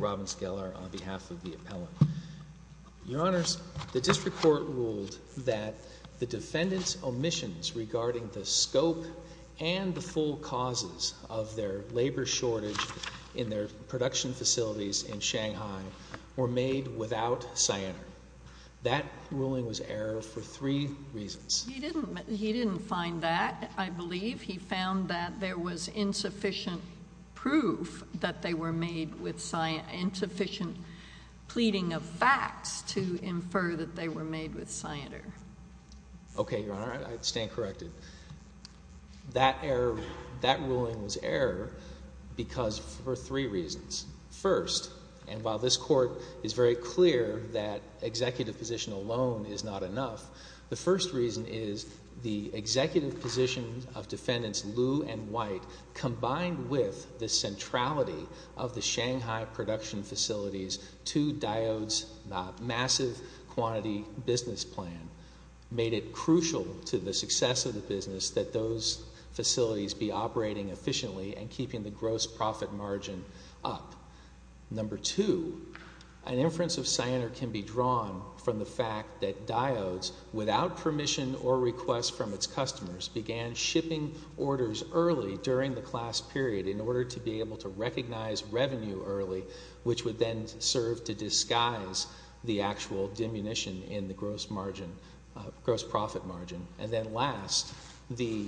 Robbins-Geller, on behalf of the Appellant. Your Honors, the District Court ruled that the defendant's omissions regarding the scope and the full causes of their labor shortage in their production facilities in Shanghai were made without cyanide. That ruling was error for three reasons. He didn't find that, I believe. He found that there was insufficient proof that they were made with cyanide, insufficient pleading of facts to infer that they were made with cyanide. Okay, Your Honor, I stand corrected. That error, that ruling was error because for three reasons. First, and while this Court is very clear that executive position alone is not enough, the first reason is the executive position of Defendants Liu and White combined with the centrality of the Shanghai production facilities to Diodes' massive quantity business plan made it crucial to the success of the business that those facilities be operating efficiently and keeping the gross profit margin up. Number two, an inference of cyanide can be drawn from the fact that Diodes, without permission or request from its customers, began shipping orders early during the class period in order to be able to recognize revenue early, which would then serve to disguise the actual diminution in the gross profit margin. And then last, the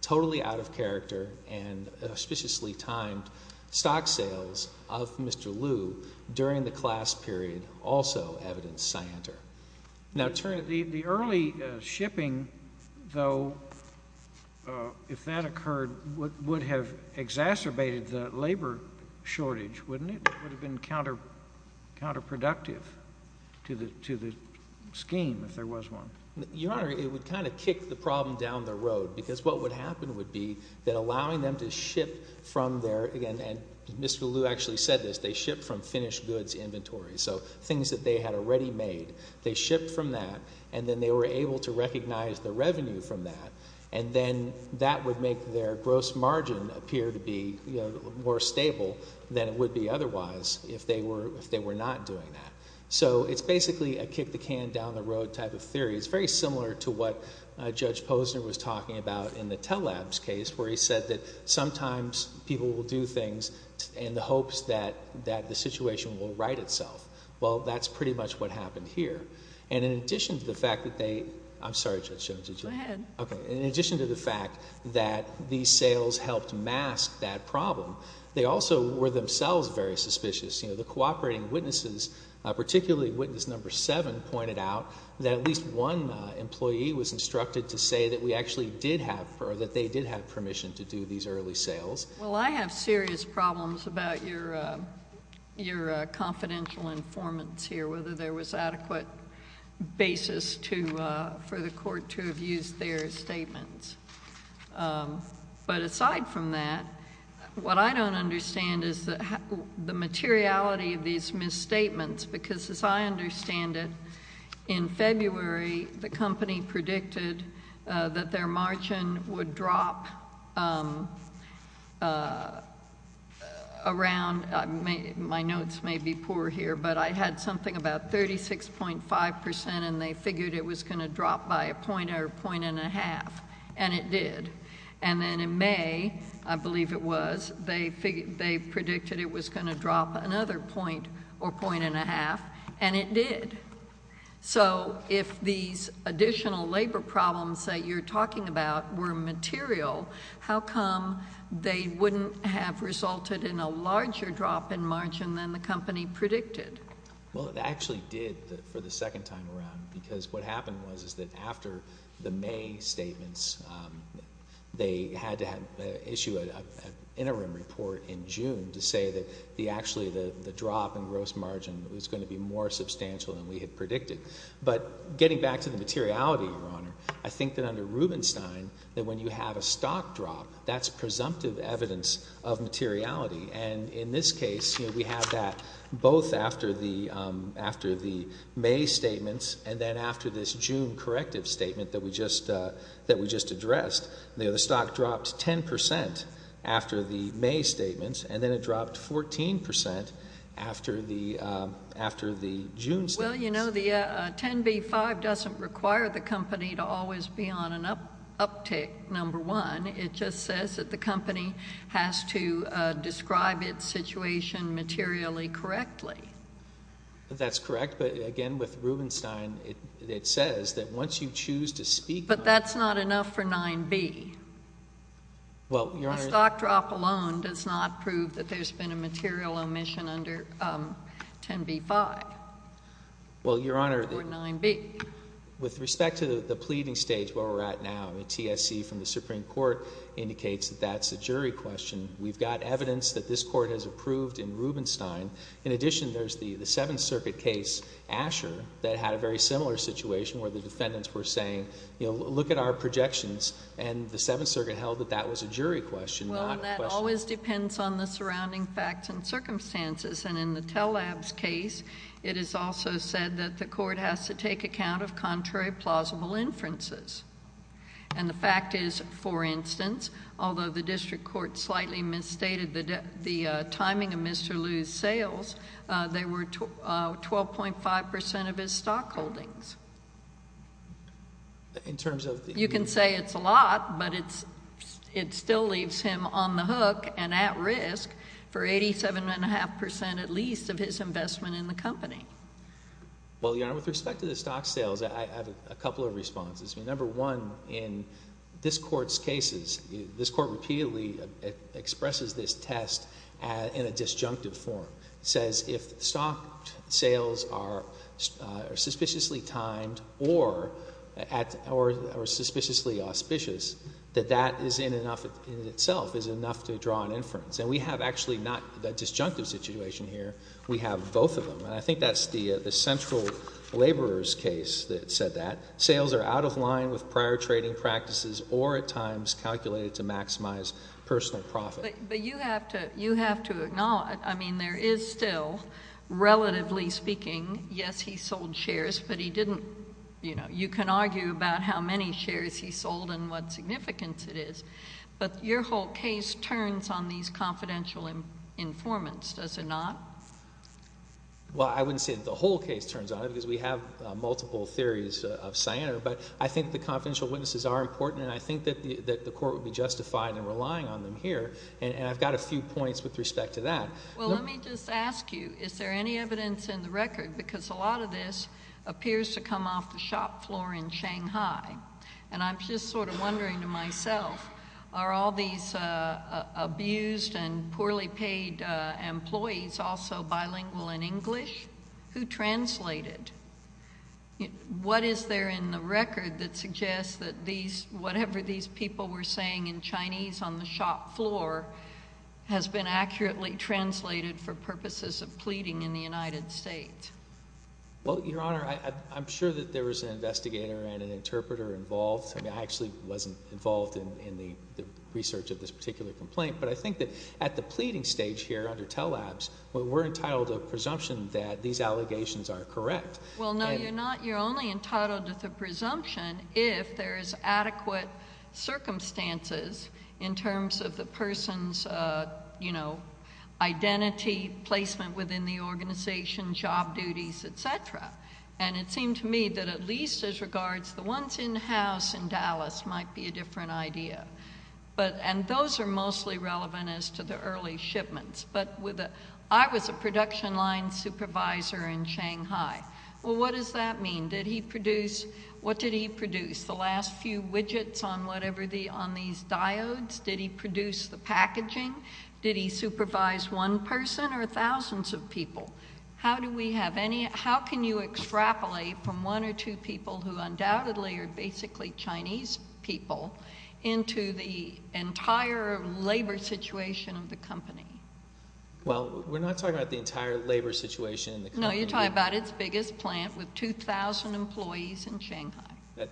totally out of character and auspiciously timed stock sales of Mr. Liu during the class period also evidenced cyanide. Now the early shipping, though, if that occurred, would have exacerbated the labor shortage, wouldn't it? It would have been counterproductive to the scheme if there was one. Your Honor, it would kind of kick the problem down the road because what would happen would be that allowing them to ship from their, and Mr. Liu actually said this, they ship from finished goods inventory, so things that they had already made, they shipped from that and then they were able to recognize the revenue from that and then that would make their gross margin appear to be more stable than it would be otherwise if they were not doing that. So it's basically a kick the can down the road type of theory. It's very similar to what Judge Posner was talking about in the Telabs case where he said that sometimes people will do things in the hopes that the situation will right itself. Well, that's pretty much what happened here. And in addition to the fact that they, I'm sorry Judge Jones, did you? Go ahead. In addition to the fact that these sales helped mask that problem, they also were themselves very suspicious. The cooperating witnesses, particularly witness number seven, pointed out that at least one employee was instructed to say that we actually did have, or that they did have permission to do these early sales. Well, I have serious problems about your confidential informants here, whether there was adequate basis for the court to have used their statements. But aside from that, what I don't understand is the materiality of these misstatements because as I understand it, in February the company predicted that their margin would drop around, my notes may be poor here, but I had something about 36.5% and they figured it was going to drop by a point or a point and a half, and it did. And then in May, I believe it was, they predicted it was going to drop another point or point and a half, and it did. So if these additional labor problems that you're talking about were material, how come they wouldn't have resulted in a larger drop in margin than the company predicted? Well, it actually did for the second time around because what happened was that after the May statements, they had to issue an interim report in June to say that actually the drop in gross margin was going to be more substantial than we had predicted. But getting back to the materiality, Your Honor, I think that under Rubenstein, that when you have a stock drop, that's presumptive evidence of materiality. And in this case, we have that both after the May statements and then after this June corrective statement that we just addressed. The stock dropped 10% after the May statements, and then it dropped 14% after the June statements. Well, you know, the 10B-5 doesn't require the company to always be on an uptick, number one. It just says that the company has to describe its situation materially correctly. That's correct. But again, with Rubenstein, it says that once you choose to speak— But that's not enough for 9B. A stock drop alone does not prove that there's been a material omission under 10B-5 for 9B. Well, Your Honor, with respect to the pleading stage where we're at now, the TSC from the indicates that that's a jury question. We've got evidence that this Court has approved in Rubenstein. In addition, there's the Seventh Circuit case, Asher, that had a very similar situation where the defendants were saying, you know, look at our projections, and the Seventh Circuit held that that was a jury question, not a question— Well, and that always depends on the surrounding facts and circumstances. And in the Telabs case, it is also said that the Court has to take account of contrary plausible inferences. And the fact is, for instance, although the district court slightly misstated the timing of Mr. Liu's sales, they were 12.5 percent of his stock holdings. In terms of— You can say it's a lot, but it still leaves him on the hook and at risk for 87.5 percent at least of his investment in the company. Well, Your Honor, with respect to the stock sales, I have a couple of responses. Number one, in this Court's cases, this Court repeatedly expresses this test in a disjunctive form. It says if stock sales are suspiciously timed or at—or are suspiciously auspicious, that that is in and of itself is enough to draw an inference. And we have actually not the disjunctive situation here. We have both of them. And I think that's the central laborer's case that said that. Sales are out of line with prior trading practices or at times calculated to maximize personal profit. But you have to—you have to acknowledge—I mean, there is still, relatively speaking—yes, he sold shares, but he didn't—you know, you can argue about how many shares he sold and what significance it is. But your whole case turns on these confidential informants, does it not? Well, I wouldn't say that the whole case turns on it, because we have multiple theories of Sianner. But I think the confidential witnesses are important, and I think that the Court would be justified in relying on them here. And I've got a few points with respect to that. Well, let me just ask you, is there any evidence in the record? Because a lot of this appears to come off the shop floor in Shanghai. And I'm just sort of wondering to myself, are all these abused and poorly paid employees also bilingual in English? Who translated? What is there in the record that suggests that these—whatever these people were saying in Chinese on the shop floor has been accurately translated for purposes of pleading in the United States? Well, Your Honor, I'm sure that there was an investigator and an interpreter involved. I mean, I actually wasn't involved in the research of this particular complaint. But I think that at the pleading stage here under Tell Labs, we're entitled to a presumption that these allegations are correct. Well, no, you're not. You're only entitled to the presumption if there is adequate circumstances in terms of the person's, you know, identity, placement within the organization, job duties, et cetera. And it seemed to me that at least as regards the ones in-house in Dallas might be a different idea. And those are mostly relevant as to the early shipments. But with a—I was a production line supervisor in Shanghai. Well, what does that mean? Did he produce—what did he produce? The last few widgets on whatever the—on these diodes? Did he produce the packaging? Did he supervise one person or thousands of people? How do we have any—how can you extrapolate from one or two people who undoubtedly are Well, we're not talking about the entire labor situation in the country. No, you're talking about its biggest plant with 2,000 employees in Shanghai.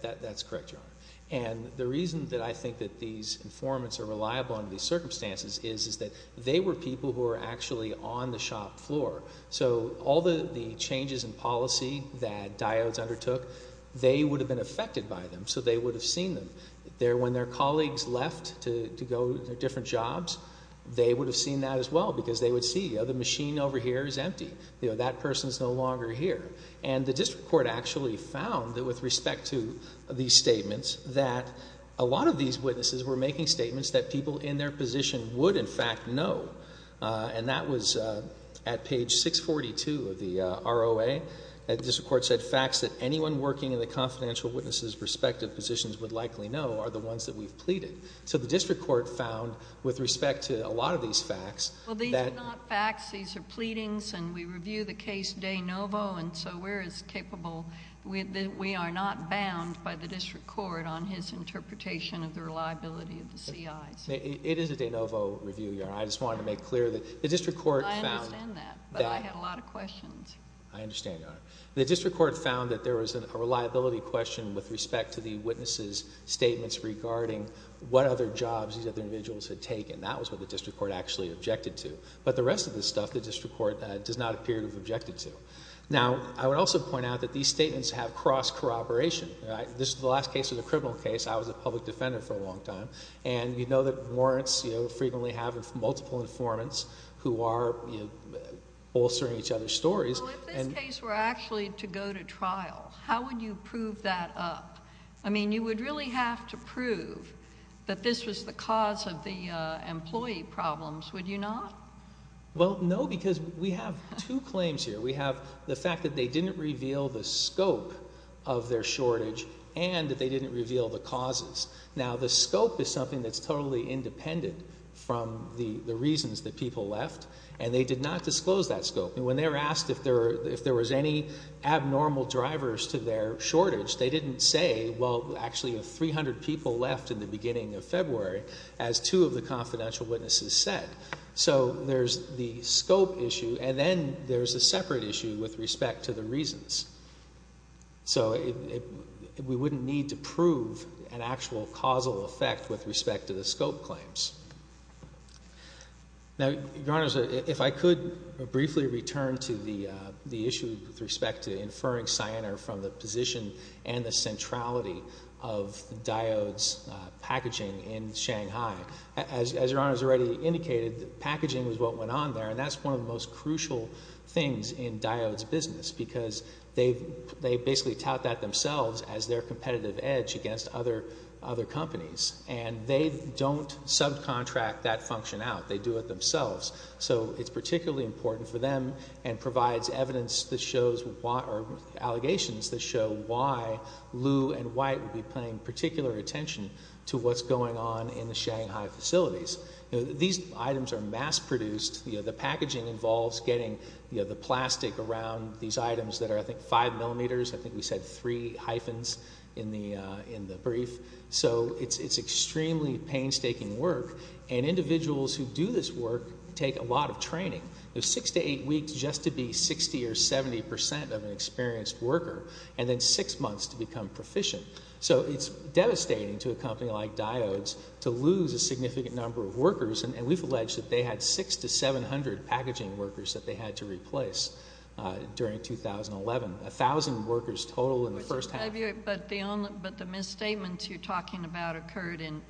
That's correct, Your Honor. And the reason that I think that these informants are reliable under these circumstances is that they were people who were actually on the shop floor. So all the changes in policy that diodes undertook, they would have been affected by them. So they would have seen them. When their colleagues left to go to their different jobs, they would have seen that as well because they would see the machine over here is empty. That person is no longer here. And the district court actually found that with respect to these statements, that a lot of these witnesses were making statements that people in their position would in fact know. And that was at page 642 of the ROA, that the district court said facts that anyone working in the confidential witnesses' respective positions would likely know are the ones that we've pleaded. So the district court found with respect to a lot of these facts... Well, these are not facts. These are pleadings. And we review the case de novo. And so we're as capable... we are not bound by the district court on his interpretation of the reliability of the CIs. It is a de novo review, Your Honor. I just wanted to make clear that the district court found... I understand that. But I had a lot of questions. I understand, Your Honor. The district court found that there was a reliability question with respect to the witnesses' statements regarding what other jobs these other individuals had taken. That was what the district court actually objected to. But the rest of this stuff, the district court does not appear to have objected to. Now, I would also point out that these statements have cross-corroboration, right? This is the last case of the criminal case. I was a public defendant for a long time. And you know that warrants, you know, frequently have multiple informants who are bolstering each other's stories. Well, if this case were actually to go to trial, how would you prove that up? I mean, you would really have to prove that this was the cause of the employee problems, would you not? Well, no, because we have two claims here. We have the fact that they didn't reveal the scope of their shortage and that they didn't reveal the causes. Now, the scope is something that's totally independent from the reasons that people left. And they did not disclose that scope. When they were asked if there was any abnormal drivers to their shortage, they didn't say, well, actually, 300 people left in the beginning of February, as two of the confidential witnesses said. So there's the scope issue, and then there's a separate issue with respect to the reasons. So we wouldn't need to prove an actual causal effect with respect to the scope claims. Now, Your Honors, if I could briefly return to the issue with respect to inferring Sienner from the position and the centrality of Diode's packaging in Shanghai. As Your Honors already indicated, packaging is what went on there, and that's one of the most crucial things in Diode's business, because they basically tout that themselves as their competitive edge against other companies. And they don't subcontract that function out. They do it themselves. So it's particularly important for them and provides evidence that shows why, or allegations that show why Lew and White would be paying particular attention to what's going on in the Shanghai facilities. These items are mass-produced. The packaging involves getting the plastic around these items that are, I think, 5 millimeters. I think we said 3 hyphens in the brief. So it's extremely painstaking work, and individuals who do this work take a lot of training. It's 6 to 8 weeks just to be 60 or 70 percent of an experienced worker, and then 6 months to become proficient. So it's devastating to a company like Diode's to lose a significant number of workers, and we've alleged that they had 6 to 700 packaging workers that they had to replace during 2011, 1,000 workers total in the first half. But the misstatements you're talking about occurred in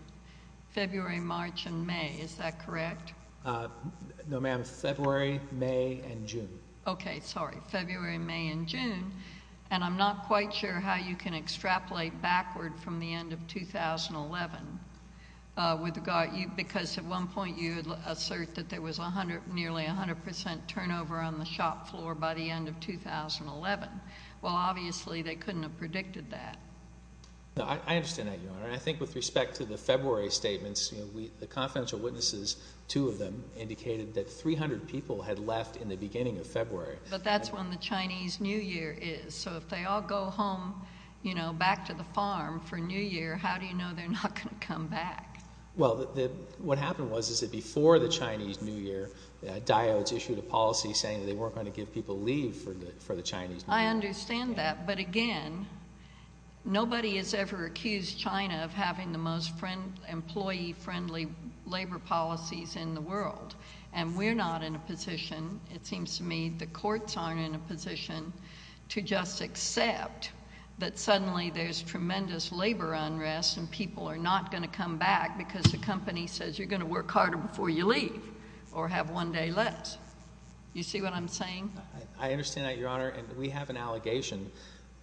February, March, and May. Is that correct? No, ma'am. February, May, and June. Okay. Sorry. February, May, and June. And I'm not quite sure how you can extrapolate backward from the end of 2011, because at one point you assert that there was nearly 100 percent turnover on the shop floor by the end of 2011. Well, obviously, they couldn't have predicted that. No, I understand that, Your Honor. I think with respect to the February statements, the confidential witnesses, two of them, indicated that 300 people had left in the beginning of February. But that's when the Chinese New Year is, so if they all go home, you know, back to the farm for New Year, how do you know they're not going to come back? Well, what happened was, is that before the Chinese New Year, Diode's issued a policy I understand that, but again, nobody has ever accused China of having the most employee-friendly labor policies in the world, and we're not in a position, it seems to me, the courts aren't in a position to just accept that suddenly there's tremendous labor unrest and people are not going to come back because the company says you're going to work harder before you leave or have one day less. You see what I'm saying? I understand that, Your Honor, and we have an allegation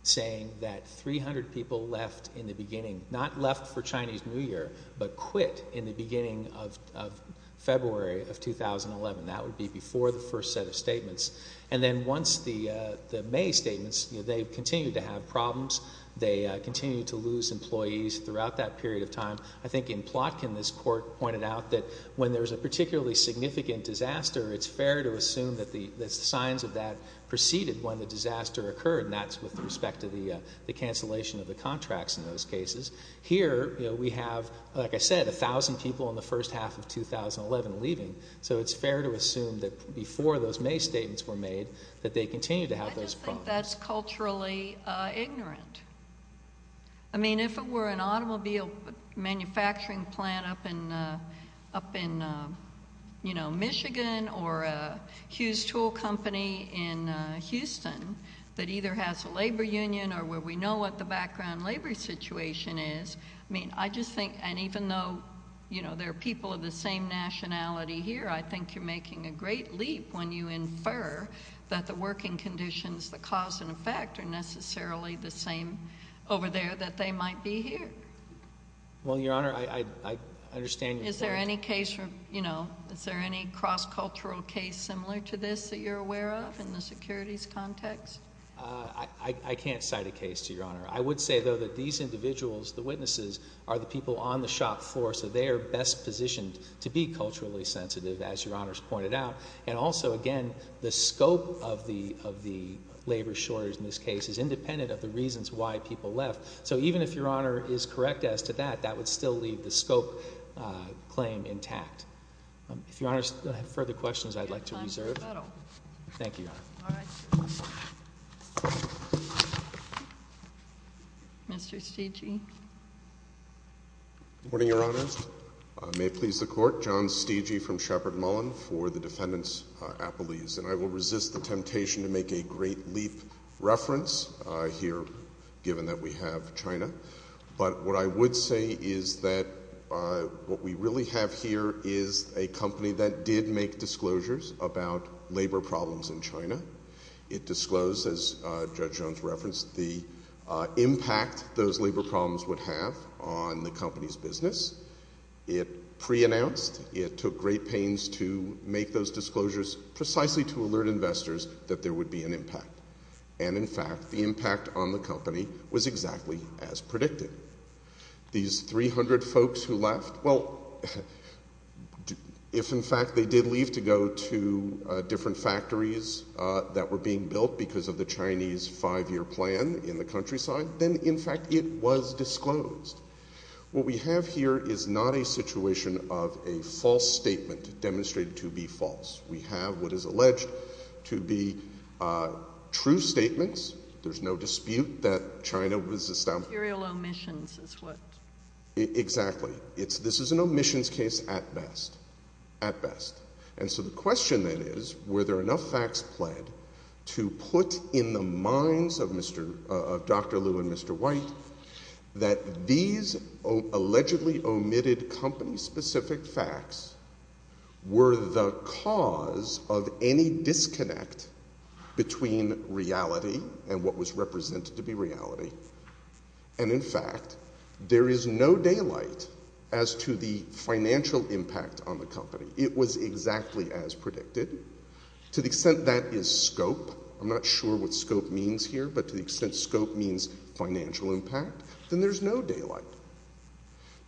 saying that 300 people left in the beginning, not left for Chinese New Year, but quit in the beginning of February of 2011. That would be before the first set of statements. And then once the May statements, you know, they continue to have problems. They continue to lose employees throughout that period of time. I think in Plotkin, this court pointed out that when there's a particularly significant disaster, it's fair to assume that the signs of that preceded when the disaster occurred, and that's with respect to the cancellation of the contracts in those cases. Here we have, like I said, 1,000 people in the first half of 2011 leaving, so it's fair to assume that before those May statements were made that they continue to have those problems. I just think that's culturally ignorant. I mean, if it were an automobile manufacturing plant up in, you know, Michigan or a Hughes Tool Company in Houston that either has a labor union or where we know what the background labor situation is, I mean, I just think—and even though, you know, there are people of the same nationality here, I think you're making a great leap when you infer that the that they might be here. Well, Your Honor, I understand your point. Is there any case from, you know, is there any cross-cultural case similar to this that you're aware of in the securities context? I can't cite a case to Your Honor. I would say, though, that these individuals, the witnesses, are the people on the shop floor, so they are best positioned to be culturally sensitive, as Your Honor's pointed out. And also, again, the scope of the labor shortage in this case is independent of the reasons why people left. So even if Your Honor is correct as to that, that would still leave the scope claim intact. If Your Honor has further questions, I'd like to reserve. Thank you, Your Honor. Mr. Steegey. Good morning, Your Honor. May it please the Court, John Steegey from Shepard Mullen for the defendants' appellees. And I will resist the temptation to make a Great Leap reference here, given that we have China. But what I would say is that what we really have here is a company that did make disclosures about labor problems in China. It disclosed, as Judge Jones referenced, the impact those labor problems would have on the company's business. It pre-announced, it took great pains to make those disclosures precisely to alert investors that there would be an impact. And in fact, the impact on the company was exactly as predicted. These 300 folks who left, well, if in fact they did leave to go to different factories that were being built because of the Chinese five-year plan in the countryside, then in fact it was disclosed. What we have here is not a situation of a false statement demonstrated to be false. We have what is alleged to be true statements. There's no dispute that China was established. Material omissions is what? Exactly. This is an omissions case at best. At best. And so the question then is, were there enough facts pled to put in the minds of Dr. Liu and Mr. White that these allegedly omitted company-specific facts were the cause of any disconnect between reality and what was represented to be reality? And in fact, there is no daylight as to the financial impact on the company. It was exactly as predicted. To the extent that is scope, I'm not sure what scope means here, but to the extent scope means financial impact, then there's no daylight.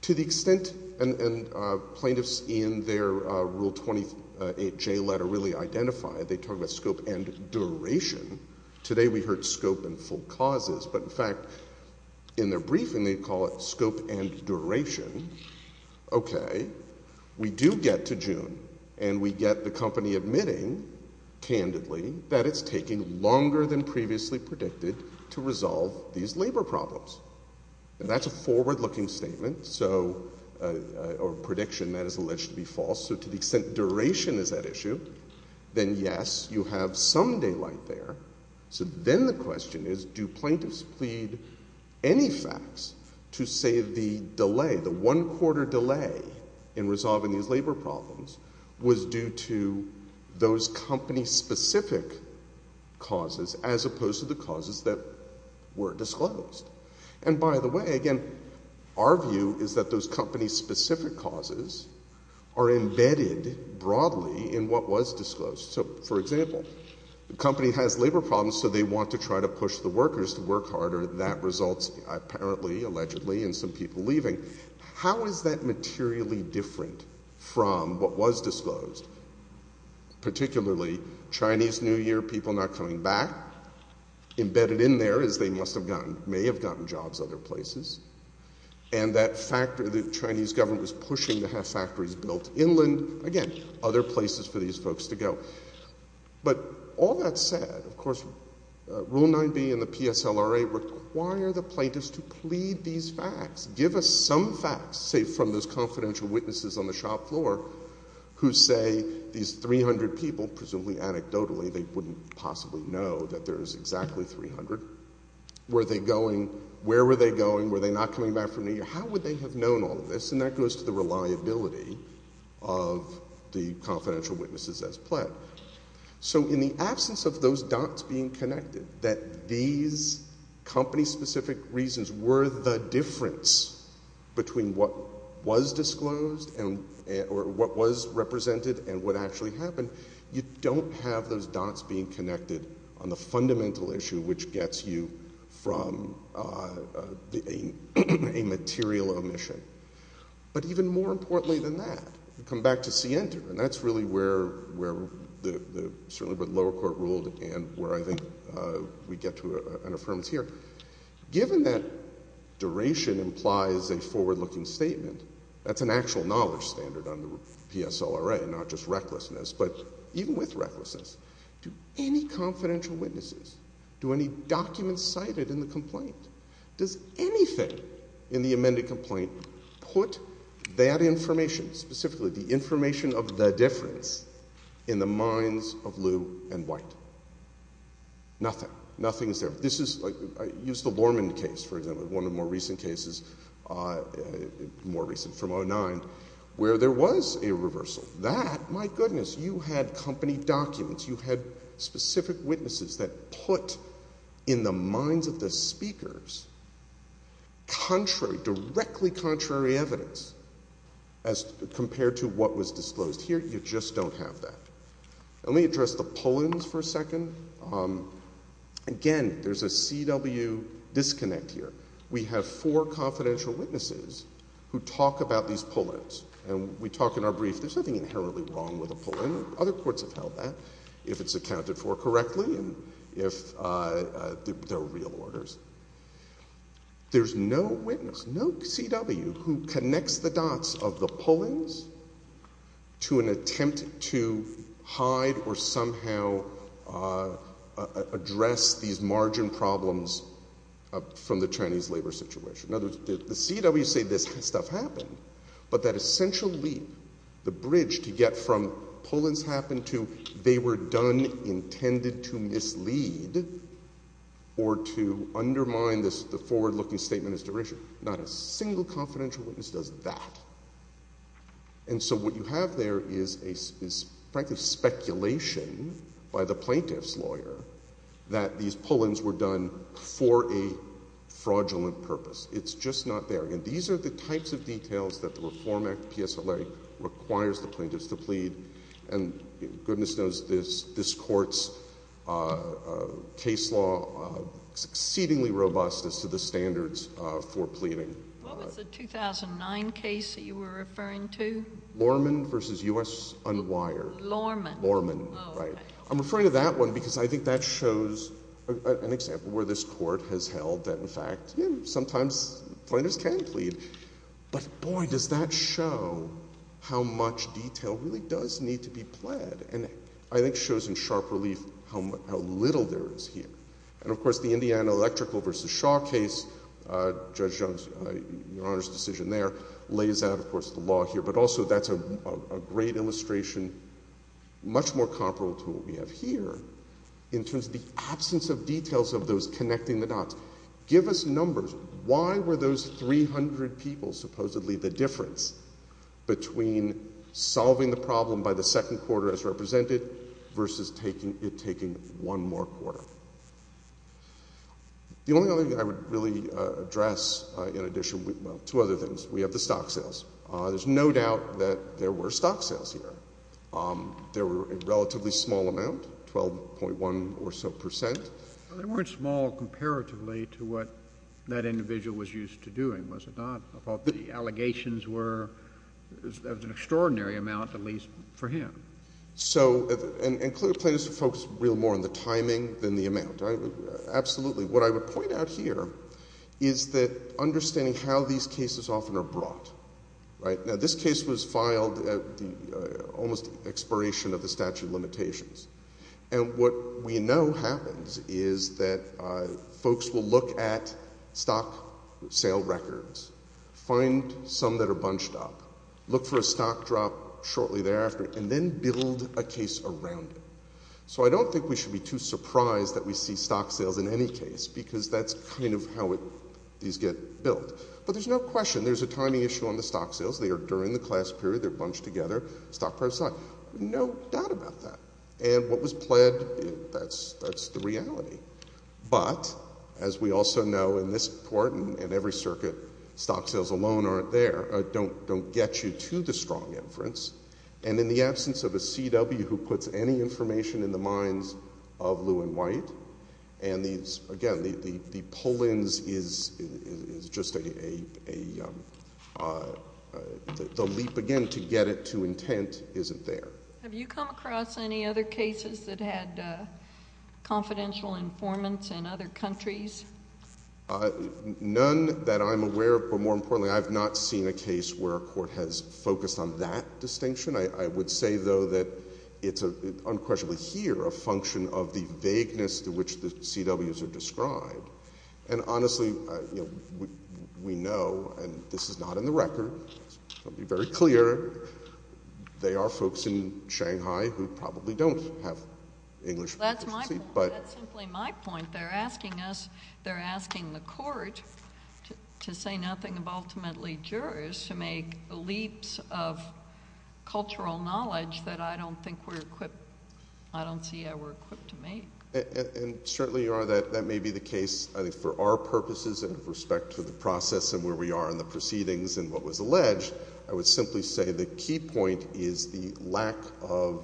To the extent plaintiffs in their Rule 28J letter really identify, they talk about scope and duration. Today we heard scope and full causes, but in fact in their briefing they call it scope and duration. Okay. We do get to June and we get the company admitting, candidly, that it's taking longer than previously predicted to resolve these labor problems. And that's a forward-looking statement, or prediction that is alleged to be false. So to the extent duration is at issue, then yes, you have some daylight there. So then the question is, do plaintiffs plead any facts to say the delay, the one-quarter delay in resolving these labor problems was due to those company-specific causes as opposed to the causes that were disclosed? And by the way, again, our view is that those company-specific causes are embedded broadly in what was disclosed. So for example, the company has labor problems so they want to try to push the workers to work harder. That results apparently, allegedly, in some people leaving. How is that materially different from what was disclosed, particularly Chinese New Year, people not coming back? Embedded in there is they must have gotten, may have gotten jobs other places. And that factor, the Chinese government was pushing to have factories built inland, again, other places for these folks to go. But all that said, of course, Rule 9b and the PSLRA require the plaintiffs to plead these facts, give us some facts, say from those confidential witnesses on the shop floor who say these 300 people, presumably anecdotally, they wouldn't possibly know that there is exactly 300, were they going, where were they going, were they not coming back for New Year? How would they have known all of this? And that goes to the reliability of the confidential witnesses as pled. So in the absence of those dots being connected, that these company-specific reasons were the difference between what was disclosed or what was represented and what actually happened, you don't have those dots being connected on the fundamental issue which gets you from a material omission. But even more importantly than that, you come back to C-Enter, and that's really where the certainly what the lower court ruled and where I think we get to an affirmative here. Given that duration implies a forward-looking statement, that's an actual knowledge standard on the PSLRA, not just recklessness, but even with recklessness, do any confidential witnesses, do any documents cited in the complaint, does anything in the amended complaint put that information, specifically the information of the difference, in the minds of Lew and White? Nothing. Nothing is there. This is, I used the Lorman case, for example, one of the more recent cases, more recent from 2009, where there was a reversal. That, my goodness, you had company documents, you had specific witnesses that put in the minds of the speakers, contrary, directly contrary evidence as compared to what was disclosed. Here you just don't have that. Let me address the pull-ins for a second. Again, there's a CW disconnect here. We have four confidential witnesses who talk about these pull-ins, and we talk in our brief, there's nothing inherently wrong with a pull-in. Other courts have held that, if it's accounted for correctly and if they're real orders. There's no witness, no CW, who connects the dots of the pull-ins to an attempt to hide or somehow address these margin problems from the Chinese labor situation. In other words, the CW say this stuff happened, but that essentially the bridge to get from pull-ins happened to they were done intended to mislead or to undermine the forward-looking statement is derision. Not a single confidential witness does that. What you have there is, frankly, speculation by the plaintiff's lawyer that these pull-ins were done for a fraudulent purpose. It's just not there. These are the types of details that the Reform Act PSLA requires the plaintiffs to plead. Goodness knows this court's case law is exceedingly robust as to the standards for pleading. What was the 2009 case that you were referring to? Lorman v. U.S. Unwired. Lorman. Lorman, right. I'm referring to that one because I think that shows an example where this court has held that, in fact, sometimes plaintiffs can plead, but, boy, does that show how much detail really does need to be pled. I think it shows in sharp relief how little there is here. And, of course, the Indiana Electrical v. Shaw case, Judge Jones, Your Honor's decision there, lays out, of course, the law here, but also that's a great illustration, much more comparable to what we have here in terms of the absence of details of those connecting the dots. Give us numbers. Why were those 300 people supposedly the difference between solving the problem by the second quarter as represented versus it taking one more quarter? The only other thing I would really address in addition to other things, we have the stock sales. There's no doubt that there were stock sales here. There were a relatively small amount, 12.1 or so percent. They weren't small comparatively to what that individual was used to doing, was it not? I thought the allegations were an extraordinary amount, at least for him. So, and clearly plaintiffs focus real more on the timing than the amount, right? Absolutely. What I would point out here is that understanding how these cases often are brought, right? Now, this case was filed at the almost expiration of the statute of limitations. And what we know happens is that folks will look at stock sale records. Find some that are bunched up. Look for a stock drop shortly thereafter and then build a case around it. So, I don't think we should be too surprised that we see stock sales in any case because that's kind of how these get built. But there's no question. There's a timing issue on the stock sales. They are during the class period. They're bunched together. Stock price is high. No doubt about that. And what was pled, that's the reality. But, as we also know in this court and every circuit, stock sales alone aren't there, don't get you to the strong inference. And in the absence of a CW who puts any information in the minds of Lew and White, and these, again, the pull-ins is just a, the leap again to get it to intent isn't there. Have you come across any other cases that had confidential informants in other countries? None that I'm aware of, but more importantly, I've not seen a case where a court has focused on that distinction. I would say, though, that it's unquestionably here a function of the vagueness to which the CWs are described. And honestly, we know, and this is not in the record. I'll be very clear. They are folks in Shanghai who probably don't have English proficiency, but- That's my point, that's simply my point. They're asking us, they're asking the court to say nothing of ultimately jurors, to make leaps of cultural knowledge that I don't think we're equipped, I don't see how we're equipped to make. And certainly, Your Honor, that may be the case, I think, for our purposes and with respect to the process and where we are in the proceedings and what was alleged. I would simply say the key point is the lack of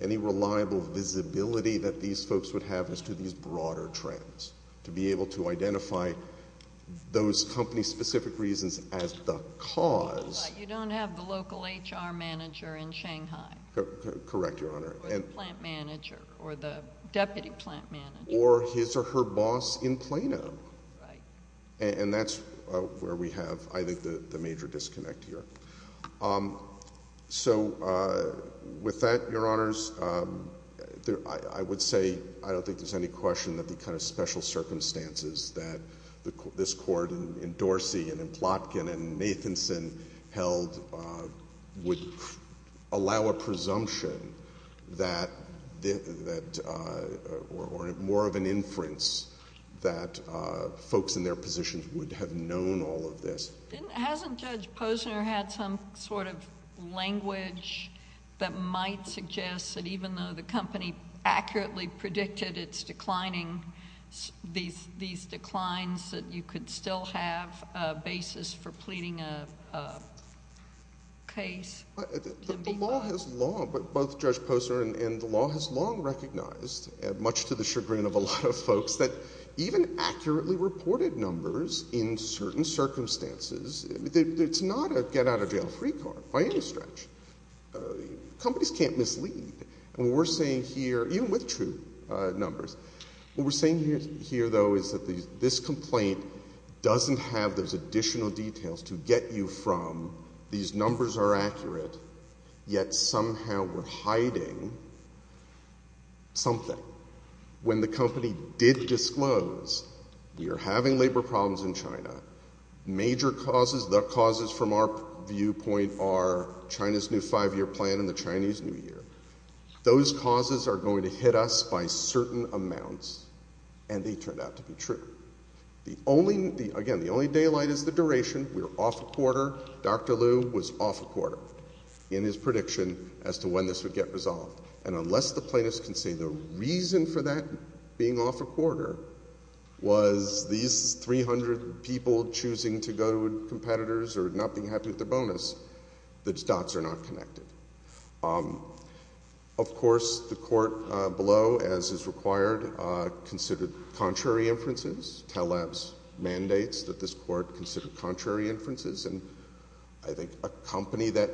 any reliable visibility that these folks would have as to these broader trends. To be able to identify those company-specific reasons as the cause. You don't have the local HR manager in Shanghai. Correct, Your Honor. Or the plant manager, or the deputy plant manager. Or his or her boss in Plano. Right. And that's where we have, I think, the major disconnect here. So with that, Your Honors, I would say, I don't think there's any question that the kind of special circumstances that this court in Dorsey, and in Plotkin, and in Matheson held would allow a presumption that, or more of an inference that folks in their positions would have known all of this. Hasn't Judge Posner had some sort of language that might suggest that even though the company accurately predicted its declining, these declines, that you could still have a basis for pleading a case? The law has long, but both Judge Posner and the law has long recognized, much to the chagrin of a lot of folks, that even accurately reported numbers in certain circumstances. It's not a get out of jail free card, by any stretch. Companies can't mislead. And what we're saying here, even with true numbers, what we're saying here though, is that this complaint doesn't have those additional details to get you from, these numbers are accurate, yet somehow we're hiding something. When the company did disclose, we are having labor problems in China. Major causes, the causes from our viewpoint are China's new five year plan and the Chinese New Year. Those causes are going to hit us by certain amounts, and they turned out to be true. The only, again, the only daylight is the duration. We're off a quarter, Dr. Liu was off a quarter in his prediction as to when this would get resolved. And unless the plaintiffs can say the reason for that being off a quarter was these 300 people choosing to go to competitors or not being happy with their bonus, the dots are not connected. Of course, the court below, as is required, considered contrary inferences. TELABS mandates that this court consider contrary inferences. And I think a company that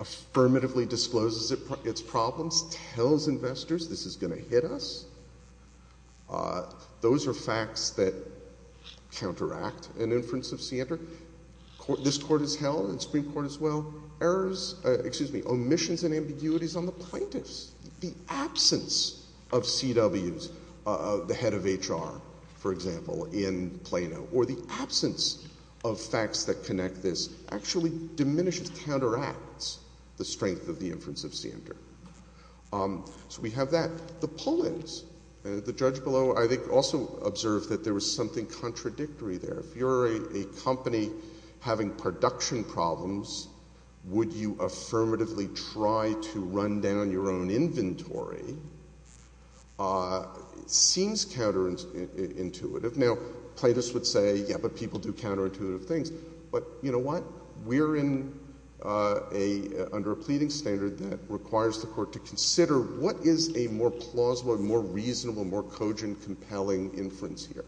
affirmatively discloses its problems tells investors this is going to hit us. Those are facts that counteract an inference of standard. This court has held, and the Supreme Court as well, omissions and ambiguities on the plaintiffs. The absence of CWs, the head of HR, for example, in Plano. Or the absence of facts that connect this actually diminishes, counteracts the strength of the inference of standard. So we have that. The poll is, the judge below, I think also observed that there was something contradictory there. If you're a company having production problems, would you affirmatively try to run down your own inventory? Seems counterintuitive. Now, plaintiffs would say, yeah, but people do counterintuitive things. But you know what? We're under a pleading standard that requires the court to consider what is a more plausible, more reasonable, more cogent, compelling inference here.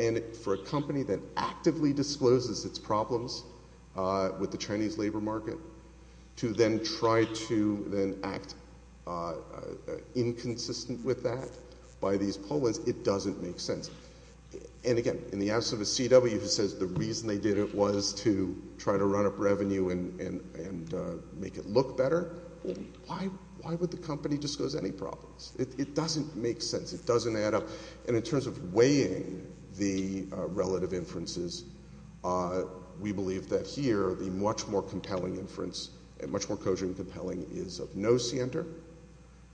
And for a company that actively discloses its problems with the Chinese labor market to then try to then act inconsistent with that by these pollers, it doesn't make sense. And again, in the absence of a CW who says the reason they did it was to try to run up revenue and make it look better, why would the company disclose any problems? It doesn't make sense. It doesn't add up. And in terms of weighing the relative inferences, we believe that here, the much more compelling inference, much more cogent and compelling, is of no scienter.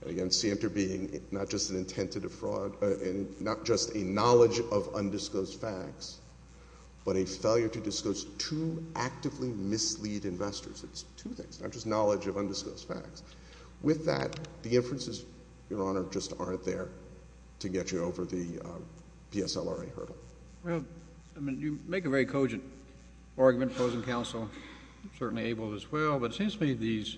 Again, scienter being not just an intent to defraud, and not just a knowledge of undisclosed facts, but a failure to disclose two actively mislead investors. It's two things, not just knowledge of undisclosed facts. With that, the inferences, Your Honor, just aren't there to get you over the PSLRA hurdle. Well, I mean, you make a very cogent argument, opposing counsel, certainly able as well. But it seems to me these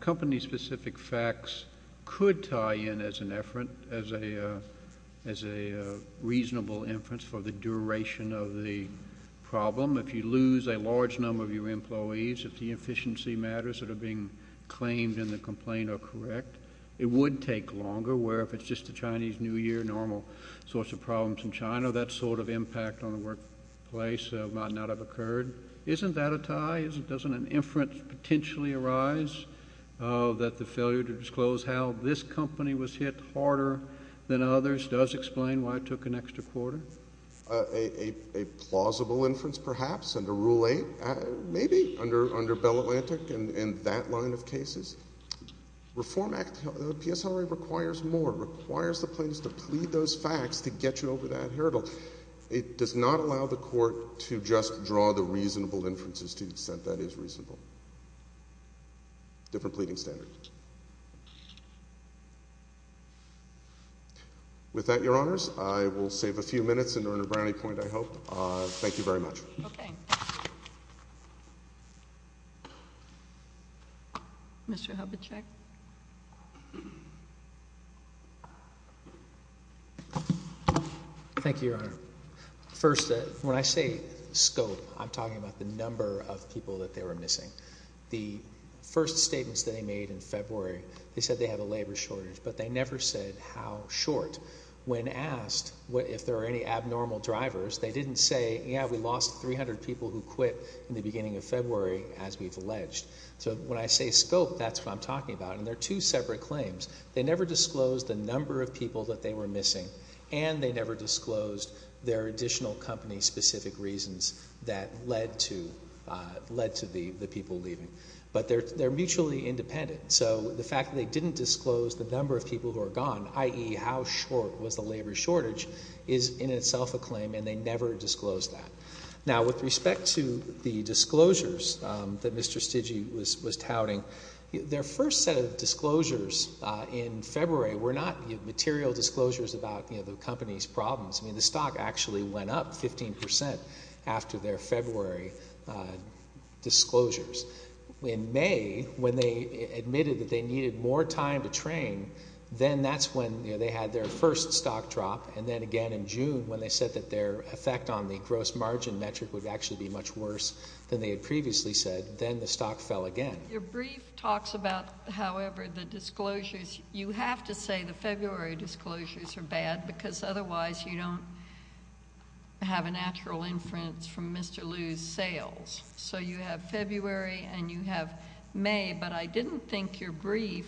company-specific facts could tie in as an effort, as a reasonable inference for the duration of the problem. If you lose a large number of your employees, if the efficiency matters that are being claimed in the complaint are correct, it would take longer, where if it's just a Chinese New Year, normal source of problems in China, that sort of impact on the workplace might not have occurred. Isn't that a tie? Doesn't an inference potentially arise that the failure to disclose how this company was hit harder than others does explain why it took an extra quarter? A plausible inference, perhaps, under Rule 8, maybe, under Bell Atlantic and that line of cases. Reform Act, the PSLRA requires more, requires the plaintiffs to plead those facts to get you over that hurdle. It does not allow the court to just draw the reasonable inferences to the extent that is reasonable. Different pleading standard. With that, Your Honors, I will save a few minutes and earn a brownie point, I hope. Thank you very much. Okay. Mr. Hubachek. Thank you, Your Honor. First, when I say scope, I'm talking about the number of people that they were missing. The first statements they made in February, they said they had a labor shortage, but they never said how short. When asked if there are any abnormal drivers, they didn't say, yeah, we lost 300 people who quit in the beginning of February, as we've alleged. So when I say scope, that's what I'm talking about, and they're two separate claims. They never disclosed the number of people that they were missing, and they never disclosed their additional company-specific reasons that led to the people leaving. But they're mutually independent. So the fact that they didn't disclose the number of people who are gone, i.e., how short was the labor shortage, is in itself a claim, and they never disclosed that. Now, with respect to the disclosures that Mr. Stigy was touting, their first set of disclosures in February were not material disclosures about the company's problems. I mean, the stock actually went up 15 percent after their February disclosures. In May, when they admitted that they needed more time to train, then that's when they had their first stock drop. And then again in June, when they said that their effect on the gross margin metric would actually be much worse than they had previously said, then the stock fell again. Your brief talks about, however, the disclosures. You have to say the February disclosures are bad because otherwise you don't have a natural inference from Mr. Liu's sales. So you have February and you have May. But I didn't think your brief,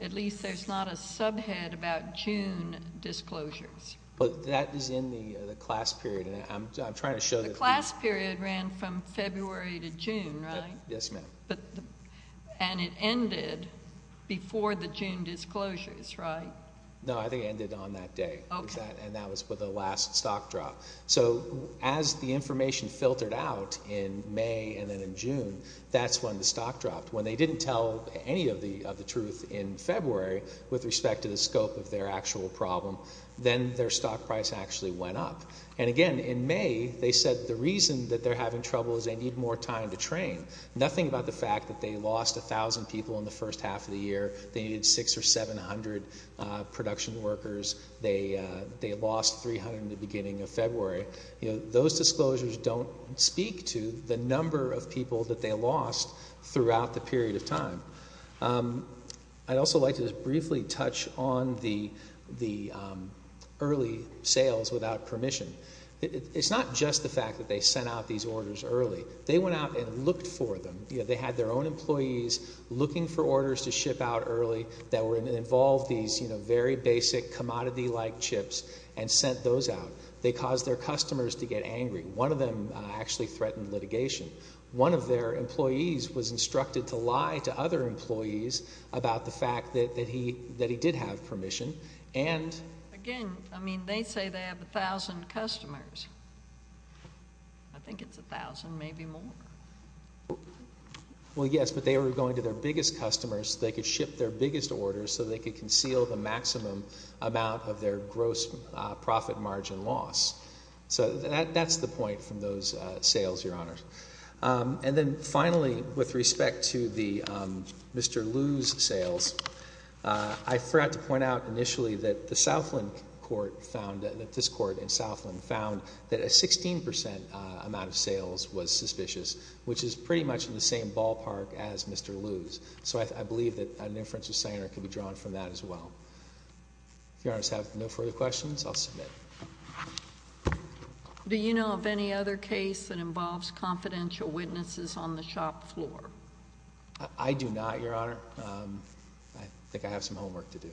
at least there's not a subhead about June disclosures. But that is in the class period, and I'm trying to show that. The class period ran from February to June, right? Yes, ma'am. And it ended before the June disclosures, right? No, I think it ended on that day, and that was the last stock drop. So as the information filtered out in May and then in June, that's when the stock dropped. When they didn't tell any of the truth in February with respect to the scope of their actual problem, then their stock price actually went up. And, again, in May they said the reason that they're having trouble is they need more time to train. Nothing about the fact that they lost 1,000 people in the first half of the year. They needed 600 or 700 production workers. They lost 300 in the beginning of February. Those disclosures don't speak to the number of people that they lost throughout the period of time. I'd also like to just briefly touch on the early sales without permission. It's not just the fact that they sent out these orders early. They went out and looked for them. They had their own employees looking for orders to ship out early that involved these very basic commodity-like chips and sent those out. They caused their customers to get angry. One of them actually threatened litigation. One of their employees was instructed to lie to other employees about the fact that he did have permission. And, again, I mean they say they have 1,000 customers. I think it's 1,000, maybe more. Well, yes, but they were going to their biggest customers so they could ship their biggest orders so they could conceal the maximum amount of their gross profit margin loss. So that's the point from those sales, Your Honors. And then, finally, with respect to the Mr. Liu's sales, I forgot to point out initially that the Southland court found, that this court in Southland found, that a 16% amount of sales was suspicious, which is pretty much in the same ballpark as Mr. Liu's. So I believe that an inference of Sanger could be drawn from that as well. If Your Honors have no further questions, I'll submit. Do you know of any other case that involves confidential witnesses on the shop floor? I do not, Your Honor. I think I have some homework to do.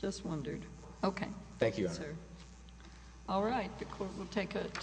Just wondered. Okay. Thank you, Your Honor. All right. The court will take a two-minute recess.